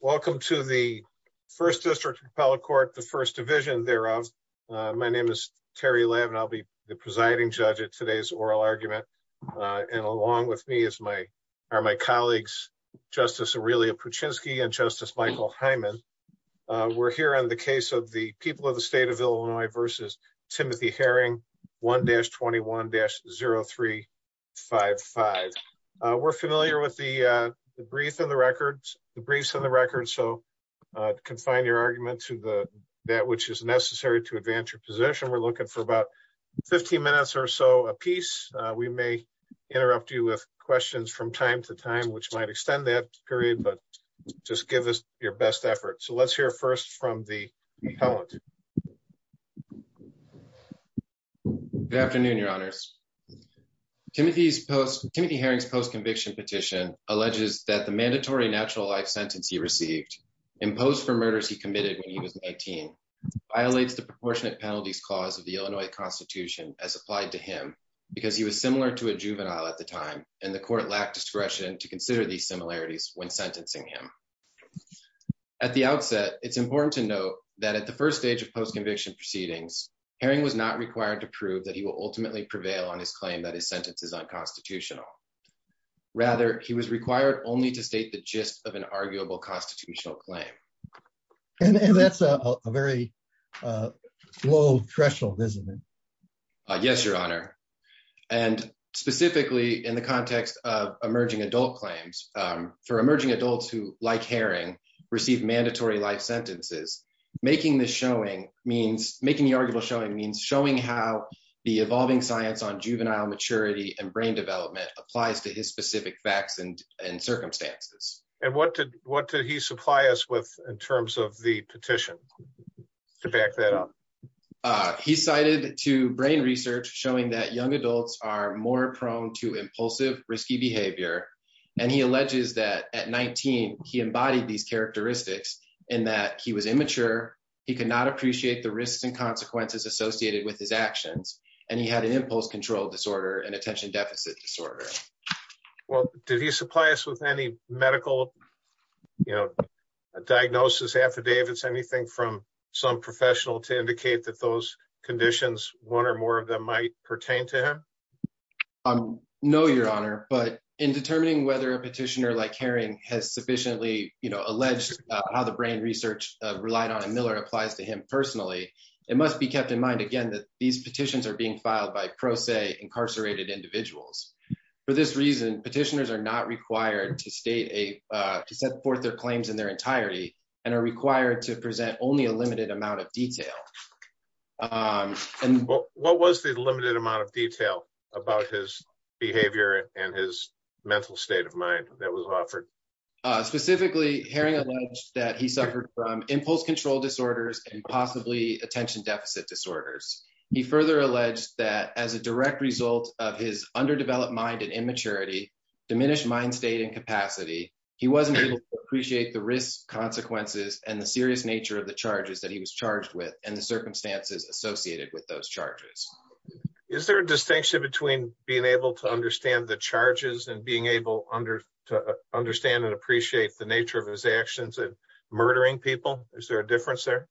Welcome to the 1st District Appellate Court, the 1st Division thereof. My name is Terry Levin. I'll be the presiding judge at today's oral argument. And along with me is my, are my colleagues, Justice Aurelia Puchinski and Justice Michael Hyman. We're here on the case of the people of the state of Illinois versus Timothy Herring 1-21-0355. We're familiar with the brief and the records, the briefs and the records so confine your argument to the, that which is necessary to advance your position we're looking for about 15 minutes or so a piece. We may interrupt you with questions from time to time which might extend that period but just give us your best effort so let's hear first from the appellant. Good afternoon, Your Honors. Timothy Herring's post-conviction petition alleges that the mandatory natural life sentence he received imposed for murders he committed when he was 19 violates the proportionate penalties clause of the Illinois Constitution as applied to him, because he was similar to a juvenile at the time, and the court lacked discretion to consider these similarities when sentencing him. At the outset, it's important to note that at the first stage of post-conviction proceedings, Herring was not required to prove that he will ultimately prevail on his claim that his sentence is unconstitutional. Rather, he was required only to state the gist of an arguable constitutional claim. And that's a very low threshold, isn't it? Yes, Your Honor. And specifically in the context of emerging adult claims for emerging adults who, like Herring, receive mandatory life sentences, making the showing means making the arguable showing means showing how the evolving science on juvenile maturity and brain development applies to his specific facts and circumstances. And what did, what did he supply us with in terms of the petition to back that up. He cited to brain research, showing that young adults are more prone to impulsive risky behavior, and he alleges that at 19, he embodied these characteristics in that he was immature. He could not appreciate the risks and consequences associated with his actions, and he had an impulse control disorder and attention deficit disorder. Well, did he supply us with any medical diagnosis affidavits anything from some professional to indicate that those conditions, one or more of them might pertain to him. No, Your Honor, but in determining whether a petitioner like Herring has sufficiently, you know, alleged how the brain research relied on and Miller applies to him personally, it must be kept in mind again that these petitions are being filed by pro se incarcerated individuals. For this reason, petitioners are not required to state a set forth their claims in their entirety, and are required to present only a limited amount of detail. And what was the limited amount of detail about his behavior and his mental state of mind that was offered. Specifically, hearing that he suffered from impulse control disorders and possibly attention deficit disorders. He further alleged that as a direct result of his underdeveloped mind and immaturity diminished mind state and capacity. He wasn't able to appreciate the risks consequences and the serious nature of the charges that he was charged with and the circumstances associated with those charges. Is there a distinction between being able to understand the charges and being able to understand and appreciate the nature of his actions and murdering people, is there a difference there.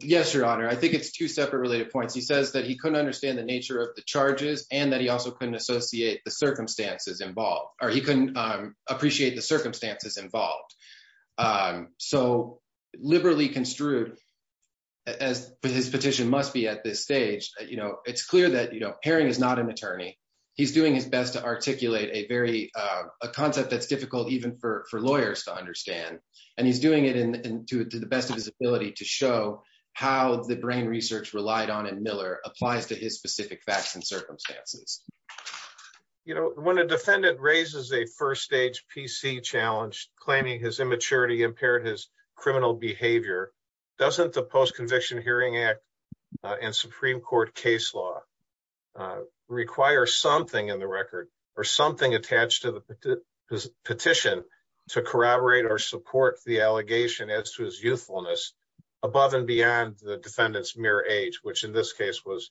Yes, Your Honor, I think it's two separate related points he says that he couldn't understand the nature of the charges, and that he also couldn't associate the circumstances involved, or he couldn't appreciate the circumstances involved. So, liberally construed as his petition must be at this stage, you know, it's clear that you know pairing is not an attorney. He's doing his best to articulate a very concept that's difficult even for lawyers to understand. And he's doing it in to the best of his ability to show how the brain research relied on and Miller applies to his specific facts and circumstances. You know, when a defendant raises a first stage PC challenge, claiming his immaturity impaired his criminal behavior. Doesn't the post conviction hearing act and Supreme Court case law. Require something in the record, or something attached to the petition to corroborate or support the allegation as to his youthfulness above and beyond the defendants mere age which in this case was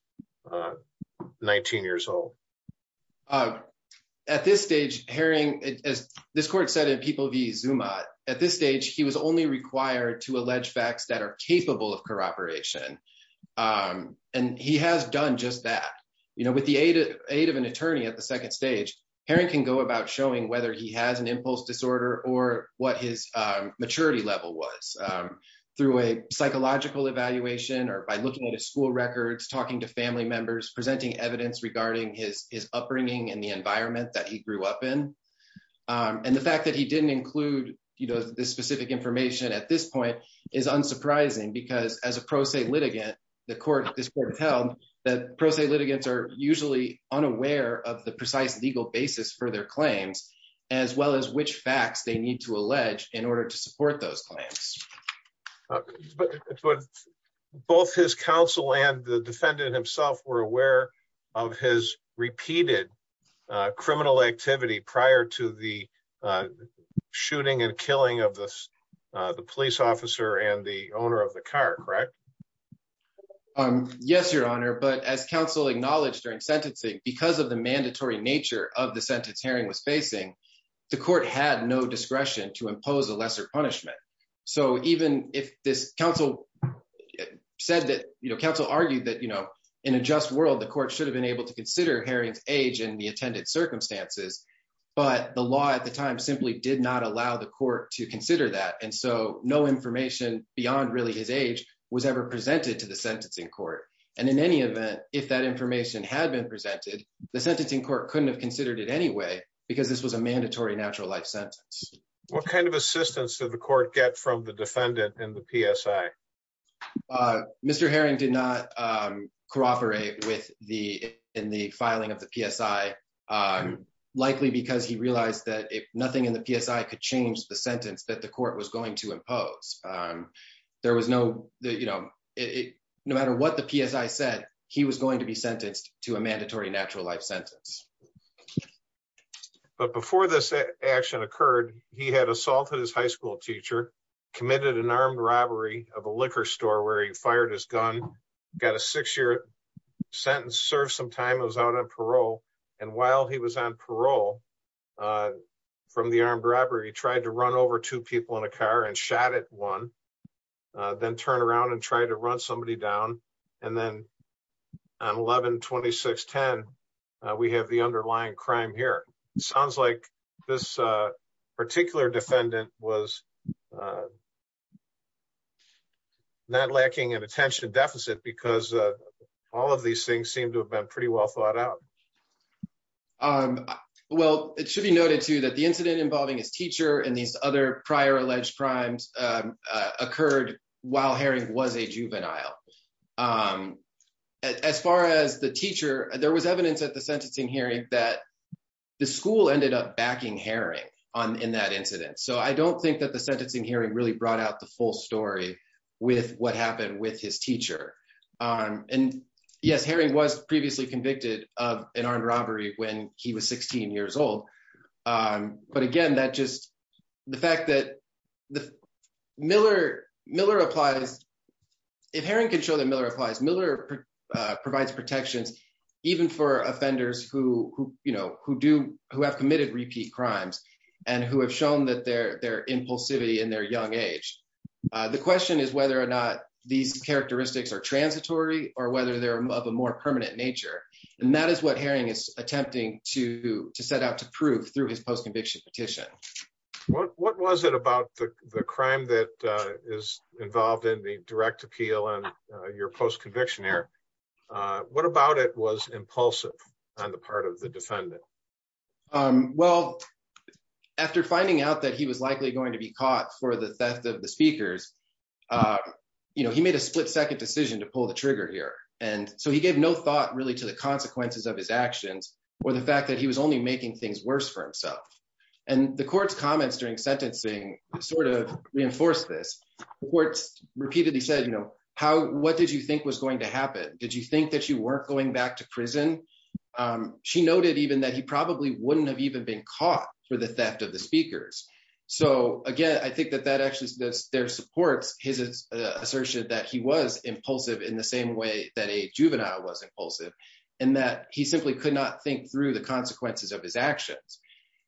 19 years old. At this stage, hearing it as this court said in people via zoom at at this stage he was only required to allege facts that are capable of cooperation. And he has done just that, you know, with the aid of aid of an attorney at the second stage pairing can go about showing whether he has an impulse disorder or what his maturity level was Through a psychological evaluation or by looking at a school records talking to family members presenting evidence regarding his upbringing and the environment that he grew up in. And the fact that he didn't include, you know, this specific information at this point is unsurprising because as a pro se litigant. Tell that pro se litigants are usually unaware of the precise legal basis for their claims as well as which facts, they need to allege in order to support those clients. Both his counsel and the defendant himself were aware of his repeated criminal activity prior to the Shooting and killing of this the police officer and the owner of the car, correct. Yes, Your Honor. But as counseling knowledge during sentencing because of the mandatory nature of the sentence hearing was facing the court had no discretion to impose a lesser punishment. So even if this council said that, you know, counsel argued that, you know, in a just world, the court should have been able to consider hearings age and the attended circumstances. But the law at the time simply did not allow the court to consider that. And so no information beyond really his age was ever presented to the sentencing court. And in any event, if that information had been presented the sentencing court couldn't have considered it anyway because this was a mandatory natural life sentence. What kind of assistance to the court get from the defendant and the PSI Mr. Herring did not cooperate with the in the filing of the PSI likely because he realized that if nothing in the PSI could change the sentence that the court was going to impose. There was no, you know, it no matter what the PSI said he was going to be sentenced to a mandatory natural life sentence. But before this action occurred, he had assaulted his high school teacher, committed an armed robbery of a liquor store where he fired his gun, got a six year sentence, served some time, was out on parole. And while he was on parole from the armed robbery, tried to run over two people in a car and shot at one, then turn around and try to run somebody down. And then on 11-26-10, we have the underlying crime here. Sounds like this particular defendant was not lacking in attention deficit because all of these things seem to have been pretty well thought out. Well, it should be noted too that the incident involving his teacher and these other prior alleged crimes occurred while Herring was a juvenile. As far as the teacher, there was evidence at the sentencing hearing that the school ended up backing Herring in that incident. So I don't think that the sentencing hearing really brought out the full story with what happened with his teacher. And yes, Herring was previously convicted of an armed robbery when he was 16 years old. But again, if Herring can show that Miller applies, Miller provides protections even for offenders who have committed repeat crimes and who have shown their impulsivity in their young age. The question is whether or not these characteristics are transitory or whether they're of a more permanent nature. And that is what Herring is attempting to set out to prove through his post-conviction petition. What was it about the crime that is involved in the direct appeal and your post-conviction error? What about it was impulsive on the part of the defendant? Well, after finding out that he was likely going to be caught for the theft of the speakers, he made a split-second decision to pull the trigger here. And so he gave no thought really to the consequences of his actions or the fact that he was only making things worse for himself. And the court's comments during sentencing sort of reinforced this. The court repeatedly said, what did you think was going to happen? Did you think that you weren't going back to prison? She noted even that he probably wouldn't have even been caught for the theft of the speakers. So again, I think that that actually supports his assertion that he was impulsive in the same way that a juvenile was impulsive and that he simply could not think through the consequences of his actions.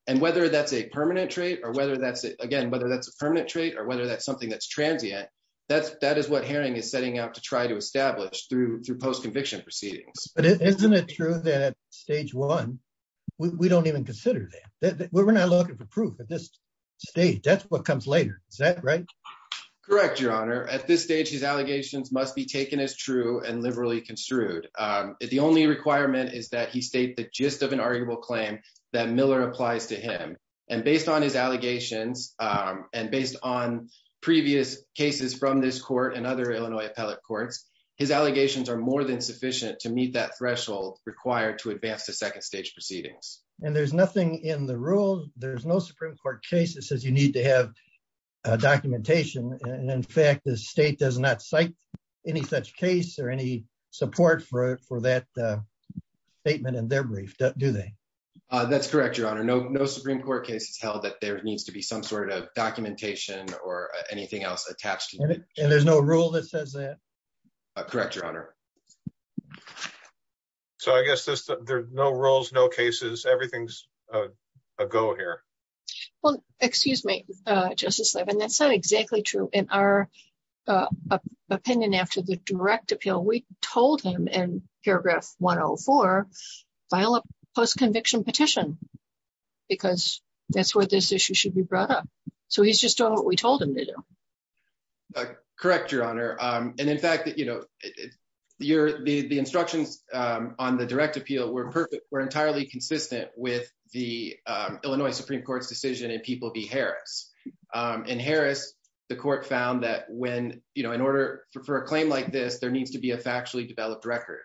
And whether that's a permanent trait or whether that's, again, whether that's a permanent trait or whether that's something that's transient, that is what Herring is setting out to try to establish through post-conviction proceedings. But isn't it true that at stage one, we don't even consider that? We're not looking for proof at this stage. That's what comes later. Is that right? Correct, Your Honor. At this stage, his allegations must be taken as true and liberally construed. The only requirement is that he state the gist of an arguable claim that Miller applies to him. And based on his allegations and based on previous cases from this court and other Illinois appellate courts, his allegations are more than sufficient to meet that threshold required to advance to second stage proceedings. And there's nothing in the rule, there's no Supreme Court case that says you need to have documentation. And in fact, the state does not cite any such case or any support for that statement in their brief, do they? That's correct, Your Honor. No, no Supreme Court case has held that there needs to be some sort of documentation or anything else attached to it. And there's no rule that says that? Correct, Your Honor. So I guess there's no rules, no cases. Everything's a go here. Well, excuse me, Justice Levin, that's not exactly true. In our opinion, after the direct appeal, we told him in paragraph 104, file a post-conviction petition because that's where this issue should be brought up. So he's just doing what we told him to do. Correct, Your Honor. And in fact, you know, the instructions on the direct appeal were perfect, were entirely consistent with the Illinois Supreme Court's decision in People v. Harris. In Harris, the court found that when, you know, in order for a claim like this, there needs to be a factually developed record.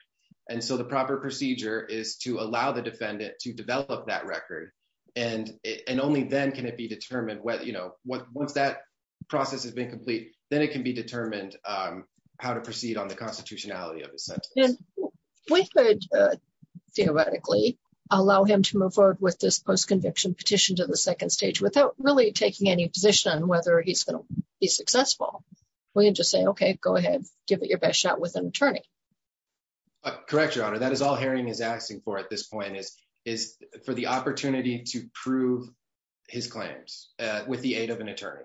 And so the proper procedure is to allow the defendant to develop that record. And only then can it be determined whether, you know, once that process has been complete, then it can be determined how to proceed on the constitutionality of the sentence. We could theoretically allow him to move forward with this post-conviction petition to the second stage without really taking any position on whether he's going to be successful. We can just say, okay, go ahead, give it your best shot with an attorney. Correct, Your Honor. That is all Herring is asking for at this point is for the opportunity to prove his claims with the aid of an attorney.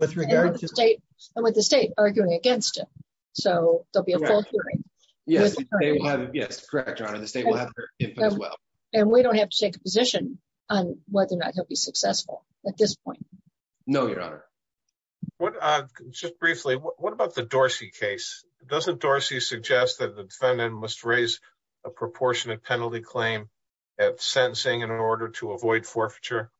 And with the state arguing against him. So there'll be a full hearing. Yes, correct, Your Honor. The state will have their input as well. And we don't have to take a position on whether or not he'll be successful at this point. No, Your Honor. Just briefly, what about the Dorsey case? Doesn't Dorsey suggest that the defendant must raise a proportionate penalty claim at sentencing in order to avoid forfeiture?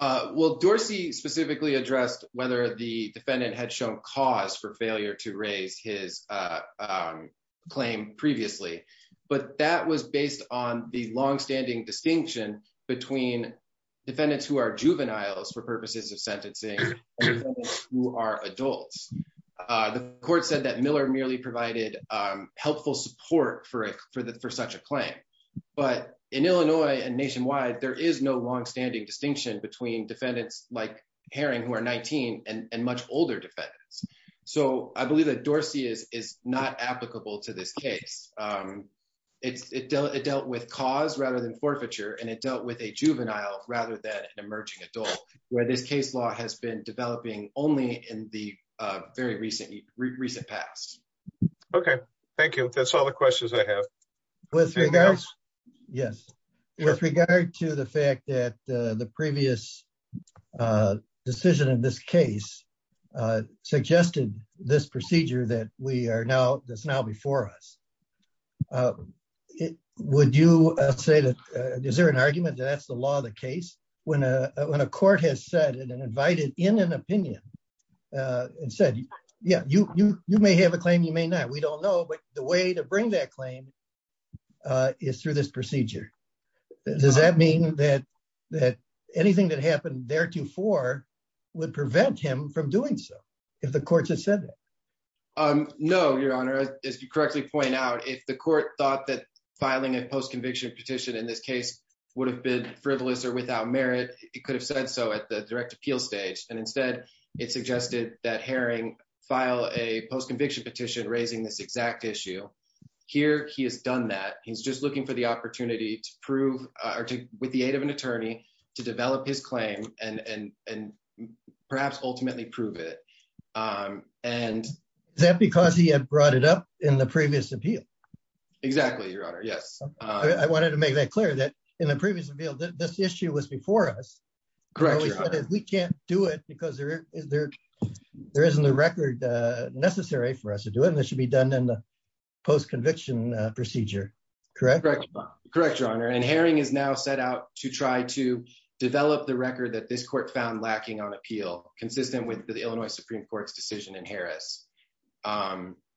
Well, Dorsey specifically addressed whether the defendant had shown cause for failure to raise his claim previously. But that was based on the longstanding distinction between defendants who are juveniles for purposes of sentencing and defendants who are adults. The court said that Miller merely provided helpful support for such a claim. But in Illinois and nationwide, there is no longstanding distinction between defendants like Herring who are 19 and much older defendants. So I believe that Dorsey is not applicable to this case. It dealt with cause rather than forfeiture, and it dealt with a juvenile rather than an emerging adult, where this case law has been developing only in the very recent past. Okay, thank you. That's all the questions I have. With regards, yes, with regard to the fact that the previous decision in this case suggested this procedure that we are now, that's now before us. Would you say that, is there an argument that that's the law of the case? When a court has said and invited in an opinion and said, yeah, you may have a claim, you may not. We don't know, but the way to bring that claim is through this procedure. Does that mean that anything that happened theretofore would prevent him from doing so if the courts have said that? No, Your Honor. As you correctly point out, if the court thought that filing a post-conviction petition in this case would have been frivolous or without merit, it could have said so at the direct appeal stage. And instead, it suggested that Herring file a post-conviction petition raising this exact issue. Here, he has done that. He's just looking for the opportunity to prove, or with the aid of an attorney, to develop his claim and perhaps ultimately prove it. Is that because he had brought it up in the previous appeal? Exactly, Your Honor. Yes. I wanted to make that clear that in the previous appeal, this issue was before us. We can't do it because there isn't a record necessary for us to do it, and it should be done in the post-conviction procedure. Correct? Correct, Your Honor. And Herring has now set out to try to develop the record that this court found lacking on appeal, consistent with the Illinois Supreme Court's decision in Harris.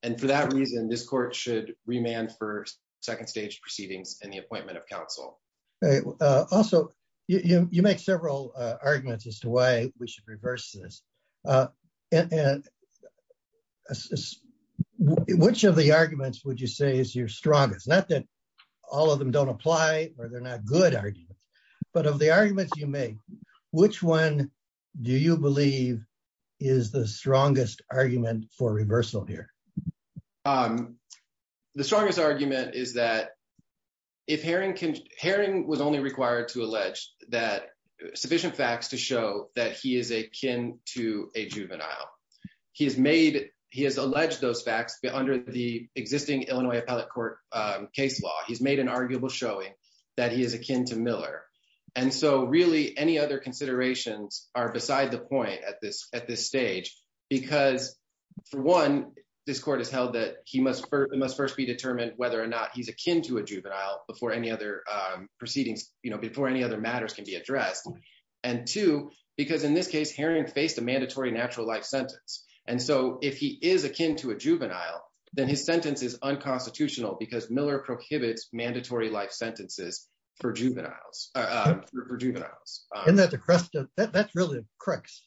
And for that reason, this court should remand for second-stage proceedings and the appointment of counsel. Also, you make several arguments as to why we should reverse this. And which of the arguments would you say is your strongest? Not that all of them don't apply or they're not good arguments, but of the arguments you make, which one do you believe is the strongest argument for reversal here? The strongest argument is that Herring was only required to allege sufficient facts to show that he is akin to a juvenile. He has alleged those facts under the existing Illinois Appellate Court case law. He's made an arguable showing that he is akin to Miller. And so really, any other considerations are beside the point at this stage. Because, for one, this court has held that it must first be determined whether or not he's akin to a juvenile before any other matters can be addressed. And two, because in this case, Herring faced a mandatory natural life sentence. And so if he is akin to a juvenile, then his sentence is unconstitutional because Miller prohibits mandatory life sentences for juveniles. Isn't that the crux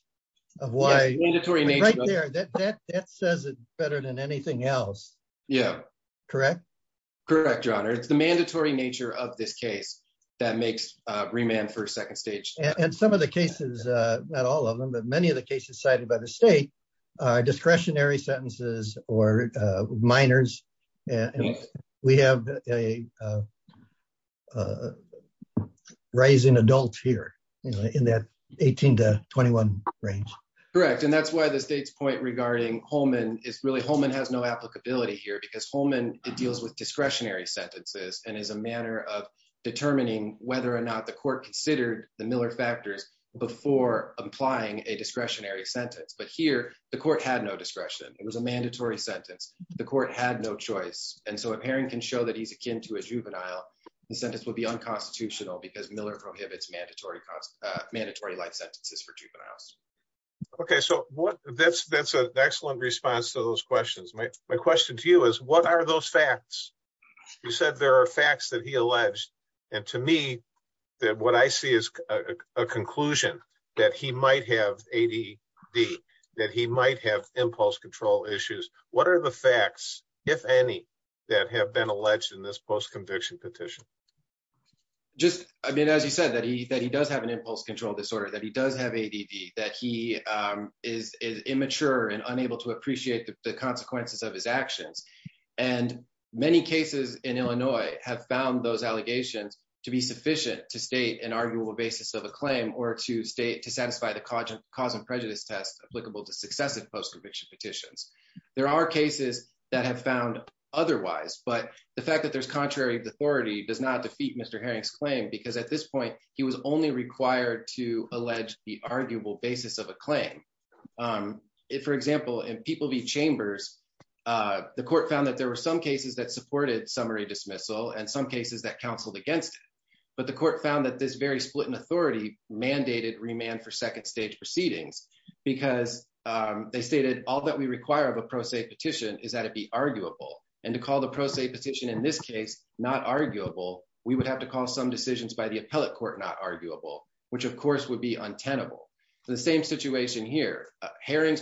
of why? That says it better than anything else. Correct? Correct, Your Honor. It's the mandatory nature of this case that makes remand for second stage. And some of the cases, not all of them, but many of the cases cited by the state are discretionary sentences or minors. We have a rising adult here in that 18 to 21 range. Correct. And that's why the state's point regarding Holman is really Holman has no applicability here because Holman deals with discretionary sentences. And is a manner of determining whether or not the court considered the Miller factors before applying a discretionary sentence. But here, the court had no discretion. It was a mandatory sentence. The court had no choice. And so if Herring can show that he's akin to a juvenile, the sentence would be unconstitutional because Miller prohibits mandatory life sentences for juveniles. Okay, so that's an excellent response to those questions. My question to you is, what are those facts? You said there are facts that he alleged. And to me, what I see is a conclusion that he might have ADD, that he might have impulse control issues. What are the facts, if any, that have been alleged in this post conviction petition? I mean, as you said, that he does have an impulse control disorder, that he does have ADD, that he is immature and unable to appreciate the consequences of his actions. And many cases in Illinois have found those allegations to be sufficient to state an arguable basis of a claim or to satisfy the cause and prejudice test applicable to successive post conviction petitions. There are cases that have found otherwise, but the fact that there's contrary authority does not defeat Mr. Herring's claim, because at this point, he was only required to allege the arguable basis of a claim. For example, in People v. Chambers, the court found that there were some cases that supported summary dismissal and some cases that counseled against it. But the court found that this very split in authority mandated remand for second stage proceedings because they stated all that we require of a pro se petition is that it be arguable. And to call the pro se petition in this case not arguable, we would have to call some decisions by the appellate court not arguable, which of course would be untenable. The same situation here, Herring's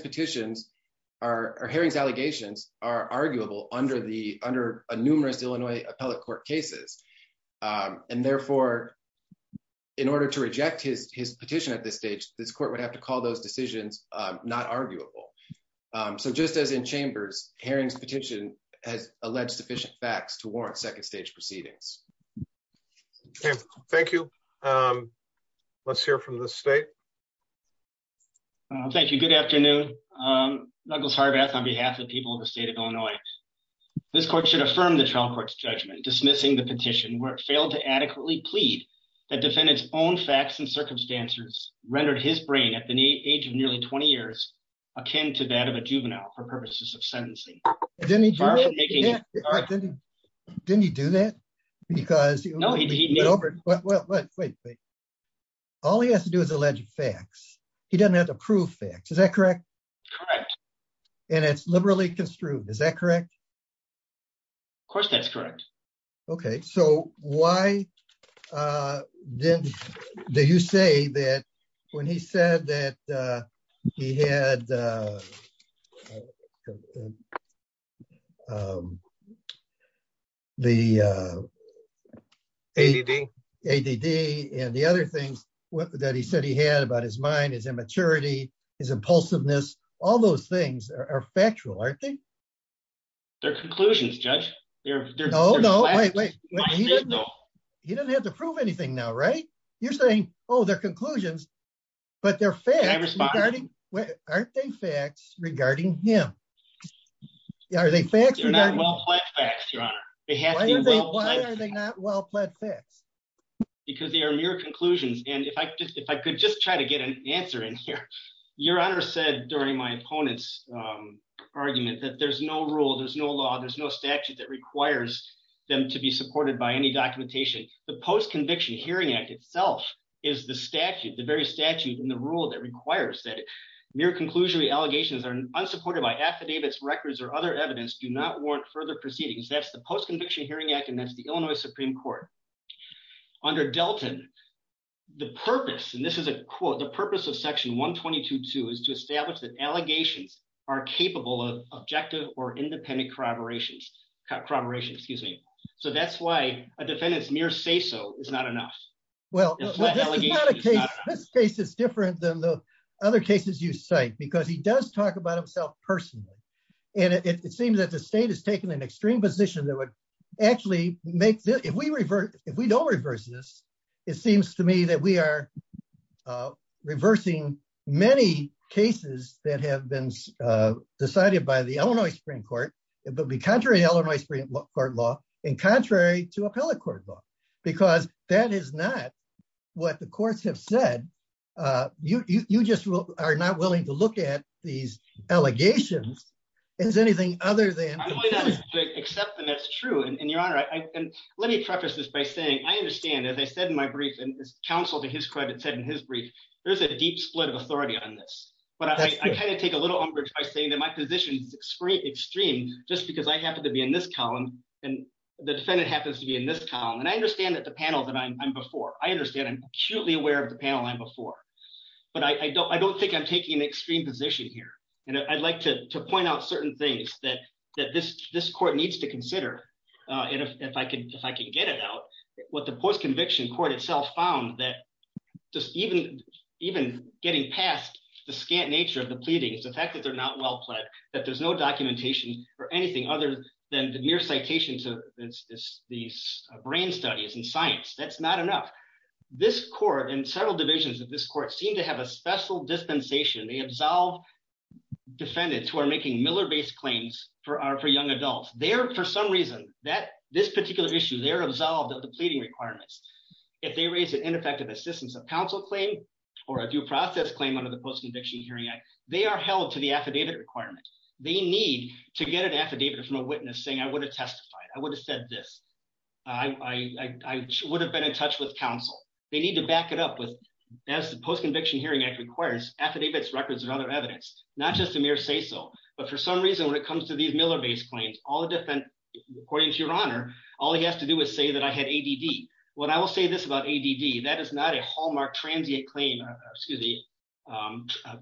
allegations are arguable under numerous Illinois appellate court cases. And therefore, in order to reject his petition at this stage, this court would have to call those decisions not arguable. So just as in Chambers, Herring's petition has alleged sufficient facts to warrant second stage proceedings. Thank you. Let's hear from the state. Thank you. Good afternoon. Douglas Harbath on behalf of the people of the state of Illinois. This court should affirm the trial court's judgment dismissing the petition where it failed to adequately plead that defendants own facts and circumstances rendered his brain at the age of nearly 20 years, akin to that of a juvenile for purposes of sentencing. Didn't he do that? No, he didn't. Wait, wait. All he has to do is allege facts. He doesn't have to prove facts. Is that correct? Correct. And it's liberally construed. Is that correct? Of course that's correct. Okay, so why did you say that when he said that he had the ADD and the other things that he said he had about his mind, his immaturity, his impulsiveness, all those things are factual, aren't they? They're conclusions, Judge. No, no, wait, wait. He doesn't have to prove anything now, right? You're saying, oh, they're conclusions, but they're facts. Aren't they facts regarding him? Are they facts regarding him? They're not well-pled facts, Your Honor. Why are they not well-pled facts? Because they are mere conclusions. And if I could just try to get an answer in here, Your Honor said during my opponent's argument that there's no rule, there's no law, there's no statute that requires them to be supported by any documentation. The Post-Conviction Hearing Act itself is the statute, the very statute and the rule that requires that mere conclusionary allegations are unsupported by affidavits, records, or other evidence do not warrant further proceedings. That's the Post-Conviction Hearing Act, and that's the Illinois Supreme Court. Under Delton, the purpose, and this is a quote, the purpose of Section 122.2 is to establish that allegations are capable of objective or independent corroboration. So that's why a defendant's mere say-so is not enough. Well, this case is different than the other cases you cite because he does talk about himself personally. And it seems that the state has taken an extreme position that would actually make this, if we don't reverse this, it seems to me that we are reversing many cases that have been decided by the Illinois Supreme Court. It would be contrary to Illinois Supreme Court law and contrary to appellate court law, because that is not what the courts have said. You just are not willing to look at these allegations as anything other than... I'm willing to accept that that's true, and Your Honor, let me preface this by saying I understand, as I said in my brief, and as counsel to his credit said in his brief, there's a deep split of authority on this. But I kind of take a little umbrage by saying that my position is extreme just because I happen to be in this column and the defendant happens to be in this column. And I understand that the panel that I'm before, I understand, I'm acutely aware of the panel I'm before. But I don't think I'm taking an extreme position here. And I'd like to point out certain things that this court needs to consider, if I can get it out. What the post-conviction court itself found that just even getting past the scant nature of the pleadings, the fact that they're not well-pled, that there's no documentation or anything other than mere citations of these brain studies and science, that's not enough. This court and several divisions of this court seem to have a special dispensation. They absolve defendants who are making Miller-based claims for young adults. They're, for some reason, this particular issue, they're absolved of the pleading requirements. If they raise an ineffective assistance of counsel claim or a due process claim under the Post-Conviction Hearing Act, they are held to the affidavit requirement. They need to get an affidavit from a witness saying, I would have testified. I would have said this. I would have been in touch with counsel. They need to back it up with, as the Post-Conviction Hearing Act requires, affidavits, records, and other evidence, not just a mere say-so. But for some reason, when it comes to these Miller-based claims, according to your Honor, all he has to do is say that I had ADD. When I will say this about ADD, that is not a hallmark transient claim, excuse me,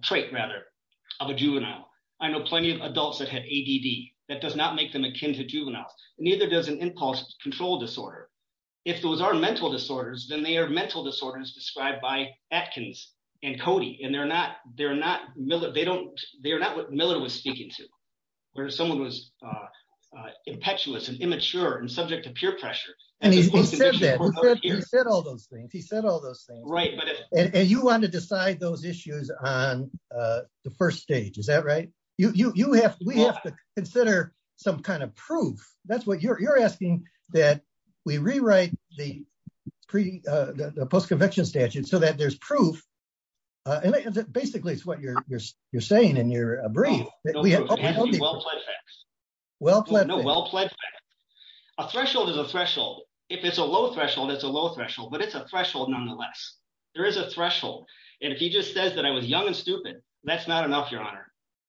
trait, rather, of a juvenile. I know plenty of adults that had ADD. That does not make them akin to juveniles. Neither does an impulse control disorder. If those are mental disorders, then they are mental disorders described by Atkins and Cody. And they're not what Miller was speaking to, where someone was impetuous and immature and subject to peer pressure. And he said that. He said all those things. He said all those things. And you want to decide those issues on the first stage. Is that right? We have to consider some kind of proof. You're asking that we rewrite the post-conviction statute so that there's proof. Basically, it's what you're saying in your brief. Well-pled facts. No, well-pled facts. A threshold is a threshold. If it's a low threshold, it's a low threshold. But it's a threshold nonetheless. There is a threshold. And if he just says that I was young and stupid, that's not enough, Your Honor.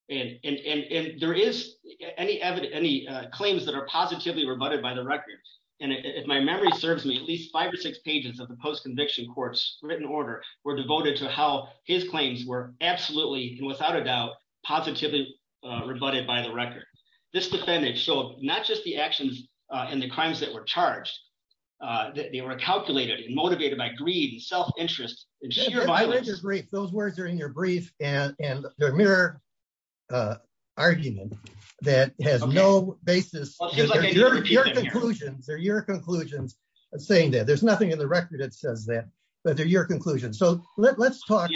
And there is any claims that are positively rebutted by the record. And if my memory serves me, at least five or six pages of the post-conviction court's written order were devoted to how his claims were absolutely and without a doubt positively rebutted by the record. This defendant showed not just the actions and the crimes that were charged. They were calculated and motivated by greed and self-interest and sheer violence. Those words are in your brief and they're a mere argument that has no basis. They're your conclusions. I'm saying that. There's nothing in the record that says that. But they're your conclusions. The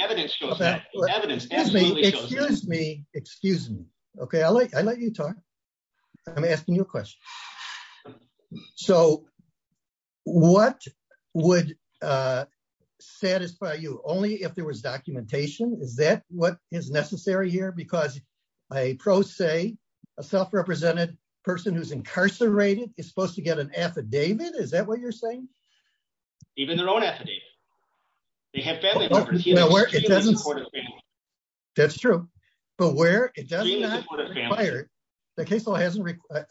evidence shows that. The evidence absolutely shows that. Excuse me. Excuse me. Okay, I'll let you talk. I'm asking you a question. So what would satisfy you only if there was documentation? Is that what is necessary here? Because a pro se, a self-represented person who's incarcerated is supposed to get an affidavit? Is that what you're saying? Even their own affidavit. They have family members. That's true. But where it doesn't require,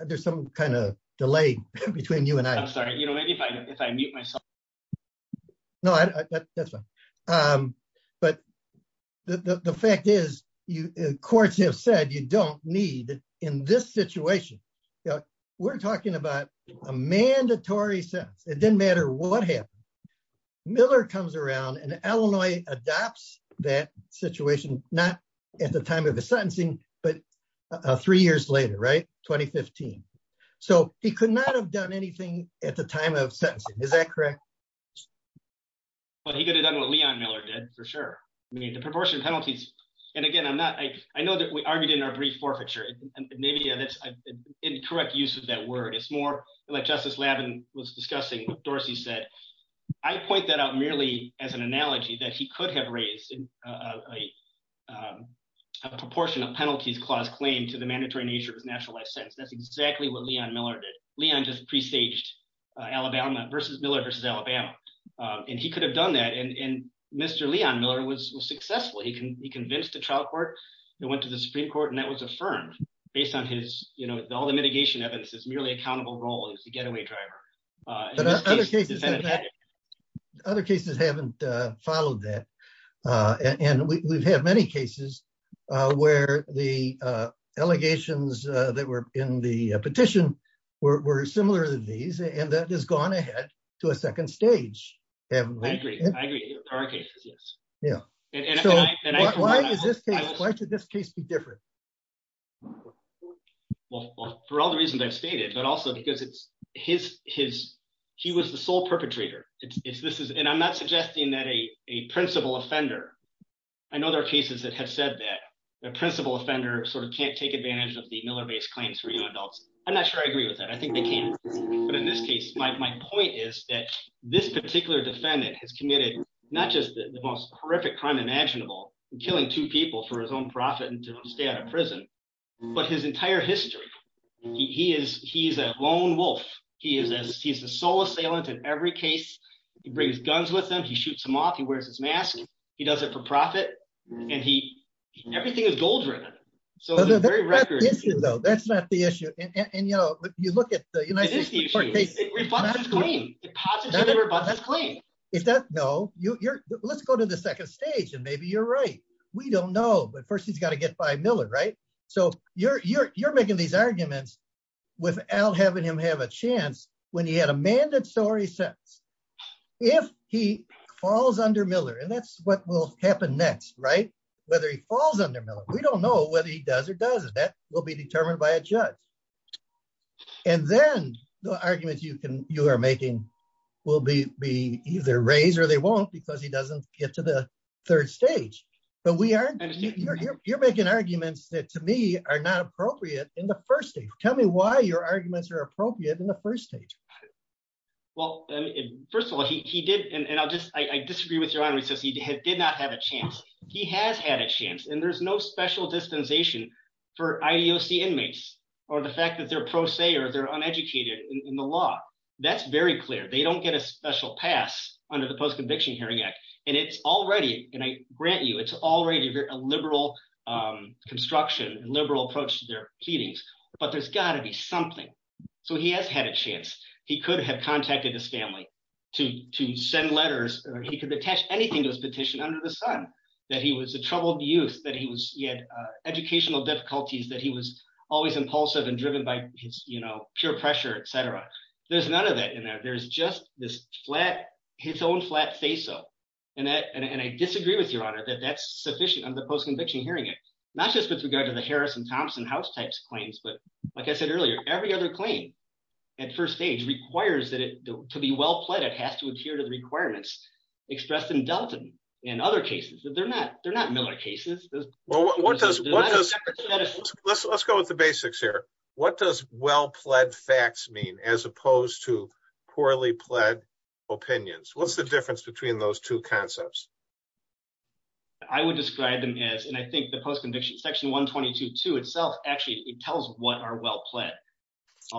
there's some kind of delay between you and I. I'm sorry. Maybe if I mute myself. No, that's fine. But the fact is, courts have said you don't need in this situation. We're talking about a mandatory sentence. It didn't matter what happened. Miller comes around and Illinois adopts that situation, not at the time of the sentencing, but three years later, right? 2015. So he could not have done anything at the time of sentencing. Is that correct? But he could have done what Leon Miller did for sure. I mean, the proportion of penalties. And again, I'm not, I know that we argued in our brief forfeiture. Maybe that's incorrect use of that word. It's more like Justice Lavin was discussing what Dorsey said. I point that out merely as an analogy that he could have raised a proportion of penalties clause claim to the mandatory nature of a nationalized sentence. That's exactly what Leon Miller did. Leon just presaged Alabama versus Miller versus Alabama. And he could have done that. And Mr. Leon Miller was successful. He convinced the trial court and went to the Supreme Court and that was affirmed based on his, you know, all the mitigation evidence is merely accountable role as the getaway driver. Other cases haven't followed that. And we've had many cases where the allegations that were in the petition were similar to these and that has gone ahead to a second stage. I agree. I agree. Our case is yes. Why is this case, why should this case be different? Well, for all the reasons I've stated, but also because it's his, his, he was the sole perpetrator. It's this is and I'm not suggesting that a principal offender. I know there are cases that have said that the principal offender sort of can't take advantage of the Miller based claims for you adults. I'm not sure I agree with that. I think they can. But in this case, my point is that this particular defendant has committed, not just the most horrific crime imaginable, killing two people for his own profit and to stay out of prison. But his entire history, he is, he's a lone wolf. He is, he's the sole assailant in every case. He brings guns with him. He shoots him off. He wears his mask. He does it for profit. And he, everything is gold-ridden. So, that's not the issue. And, you know, you look at the United States. Is that no, you're, let's go to the second stage and maybe you're right. We don't know, but first he's got to get by Miller, right? So, you're, you're, you're making these arguments without having him have a chance when he had a man that story sets. If he falls under Miller, and that's what will happen next, right? Whether he falls under Miller, we don't know whether he does or doesn't. That will be determined by a judge. And then the arguments you can, you are making will be, be either raised or they won't because he doesn't get to the third stage. But we are, you're making arguments that to me are not appropriate in the first stage. Tell me why your arguments are appropriate in the first stage. Well, first of all, he did, and I'll just, I disagree with your honor. He says he did not have a chance. He has had a chance and there's no special dispensation for IDOC inmates or the fact that they're pro se or they're uneducated in the law. That's very clear. They don't get a special pass under the Post-Conviction Hearing Act. And it's already, and I grant you, it's already a liberal construction, liberal approach to their pleadings, but there's got to be something. So he has had a chance. He could have contacted his family to send letters, or he could attach anything to his petition under the sun, that he was a troubled youth, that he was, he had educational difficulties, that he was always impulsive and driven by his, you know, pure pressure, etc. There's none of that in there. There's just this flat, his own flat say so. And that, and I disagree with your honor that that's sufficient under the Post-Conviction Hearing Act, not just with regard to the Harris and Thompson house types claims, but like I said earlier, every other claim at first stage requires that it to be well pledged, it has to adhere to the requirements expressed in Delton and other cases that they're not, they're not Miller cases. Let's, let's go with the basics here. What does well pledged facts mean as opposed to poorly pledged opinions, what's the difference between those two concepts. I would describe them as and I think the post conviction section 122 to itself, actually, it tells what are well pled.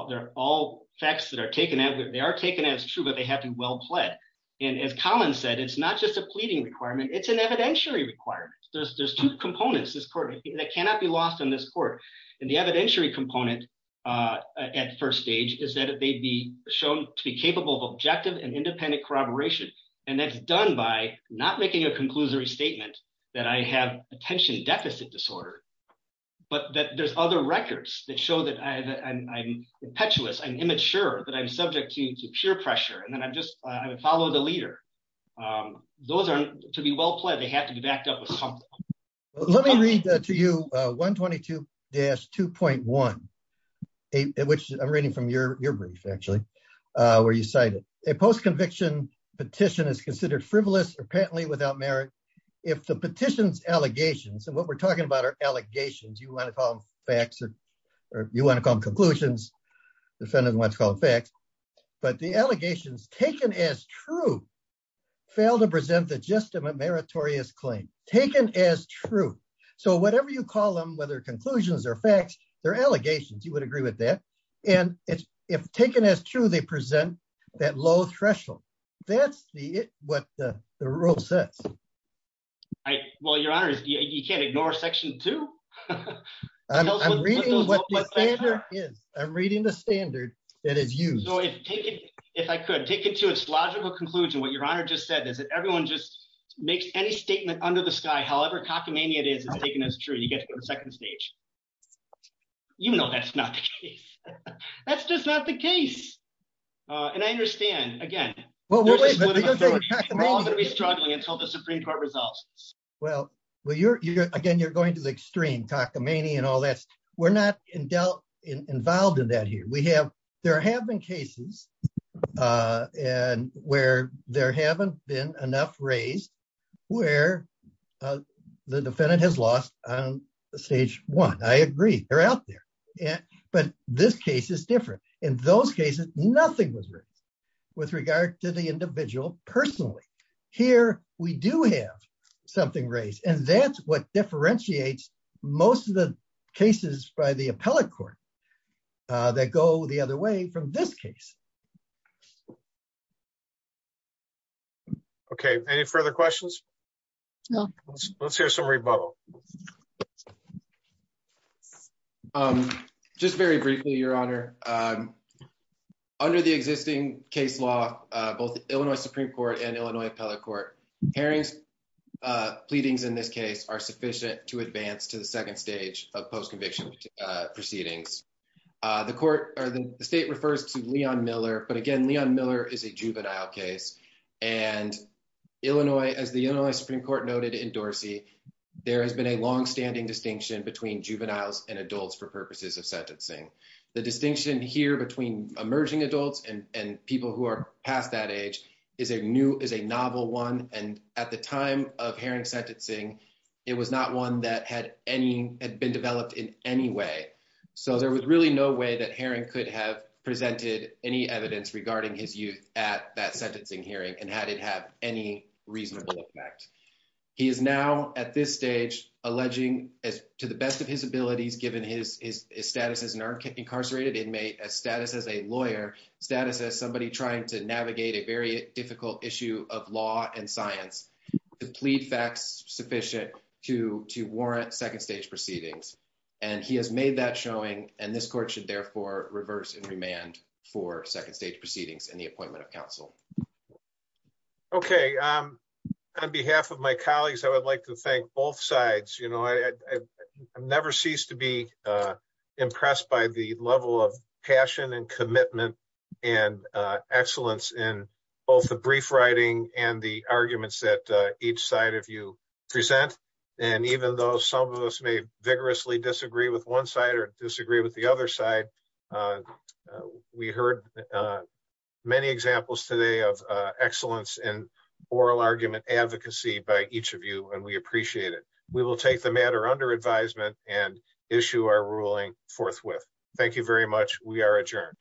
They're all facts that are taken out, they are taken as true but they have to be well pled. And as Colin said it's not just a pleading requirement, it's an evidentiary requirement, there's two components that cannot be lost on this court. And the evidentiary component at first stage is that it may be shown to be capable of objective and independent corroboration. And that's done by not making a conclusory statement that I have attention deficit disorder. But that there's other records that show that I'm impetuous I'm immature that I'm subject to peer pressure and then I'm just, I would follow the leader. Those are to be well played they have to be backed up. Let me read to you, 122 dash 2.1, which I'm reading from your, your brief actually where you cited a post conviction petition is considered frivolous apparently without merit. If the petitions allegations and what we're talking about are allegations you want to call facts, or you want to come conclusions. Defendants want to call it facts, but the allegations taken as true fail to present that just a meritorious claim taken as true. So whatever you call them whether conclusions or facts, their allegations you would agree with that. And if, if taken as true they present that low threshold. That's the what the road sets. I will your honor is you can't ignore section two. I'm reading what is I'm reading the standard. It is you know if taken. If I could take it to its logical conclusion what your honor just said is that everyone just makes any statement under the sky however cockamamie it is taken as true you get to the second stage. You know that's not the case. That's just not the case. And I understand, again, we're all going to be struggling until the Supreme Court results. Well, well you're you're again you're going to the extreme cockamamie and all that's, we're not in doubt involved in that here we have, there have been cases. And where there haven't been enough raised where the defendant has lost on stage one I agree they're out there. Yeah, but this case is different. In those cases, nothing was written with regard to the individual personally. Here, we do have something race and that's what differentiates most of the cases by the appellate court. That go the other way from this case. Okay, any further questions. Let's hear some rebuttal. Just very briefly, Your Honor. Under the existing case law, both Illinois Supreme Court and Illinois appellate court hearings pleadings in this case are sufficient to advance to the second stage of post conviction proceedings. The court or the state refers to Leon Miller but again Leon Miller is a juvenile case, and Illinois as the Supreme Court noted in Dorsey. There has been a long standing distinction between juveniles and adults for purposes of sentencing. The distinction here between emerging adults and people who are past that age is a new is a novel one. And at the time of herring sentencing. It was not one that had any had been developed in any way. So there was really no way that herring could have presented any evidence regarding his youth at that sentencing hearing and had it have any reasonable effect. He is now at this stage, alleging as to the best of his abilities given his status as an incarcerated inmate as status as a lawyer status as somebody trying to navigate a very difficult issue of law and science. The plead facts sufficient to to warrant second stage proceedings, and he has made that showing, and this court should therefore reverse and remand for second stage proceedings and the appointment of counsel. Okay. On behalf of my colleagues, I would like to thank both sides, you know, I never cease to be impressed by the level of passion and commitment and excellence in both the brief writing and the arguments that each side of you present. And even though some of us may vigorously disagree with one side or disagree with the other side. We heard many examples today of excellence and oral argument advocacy by each of you and we appreciate it. We will take the matter under advisement and issue our ruling forthwith. Thank you very much. We are adjourned.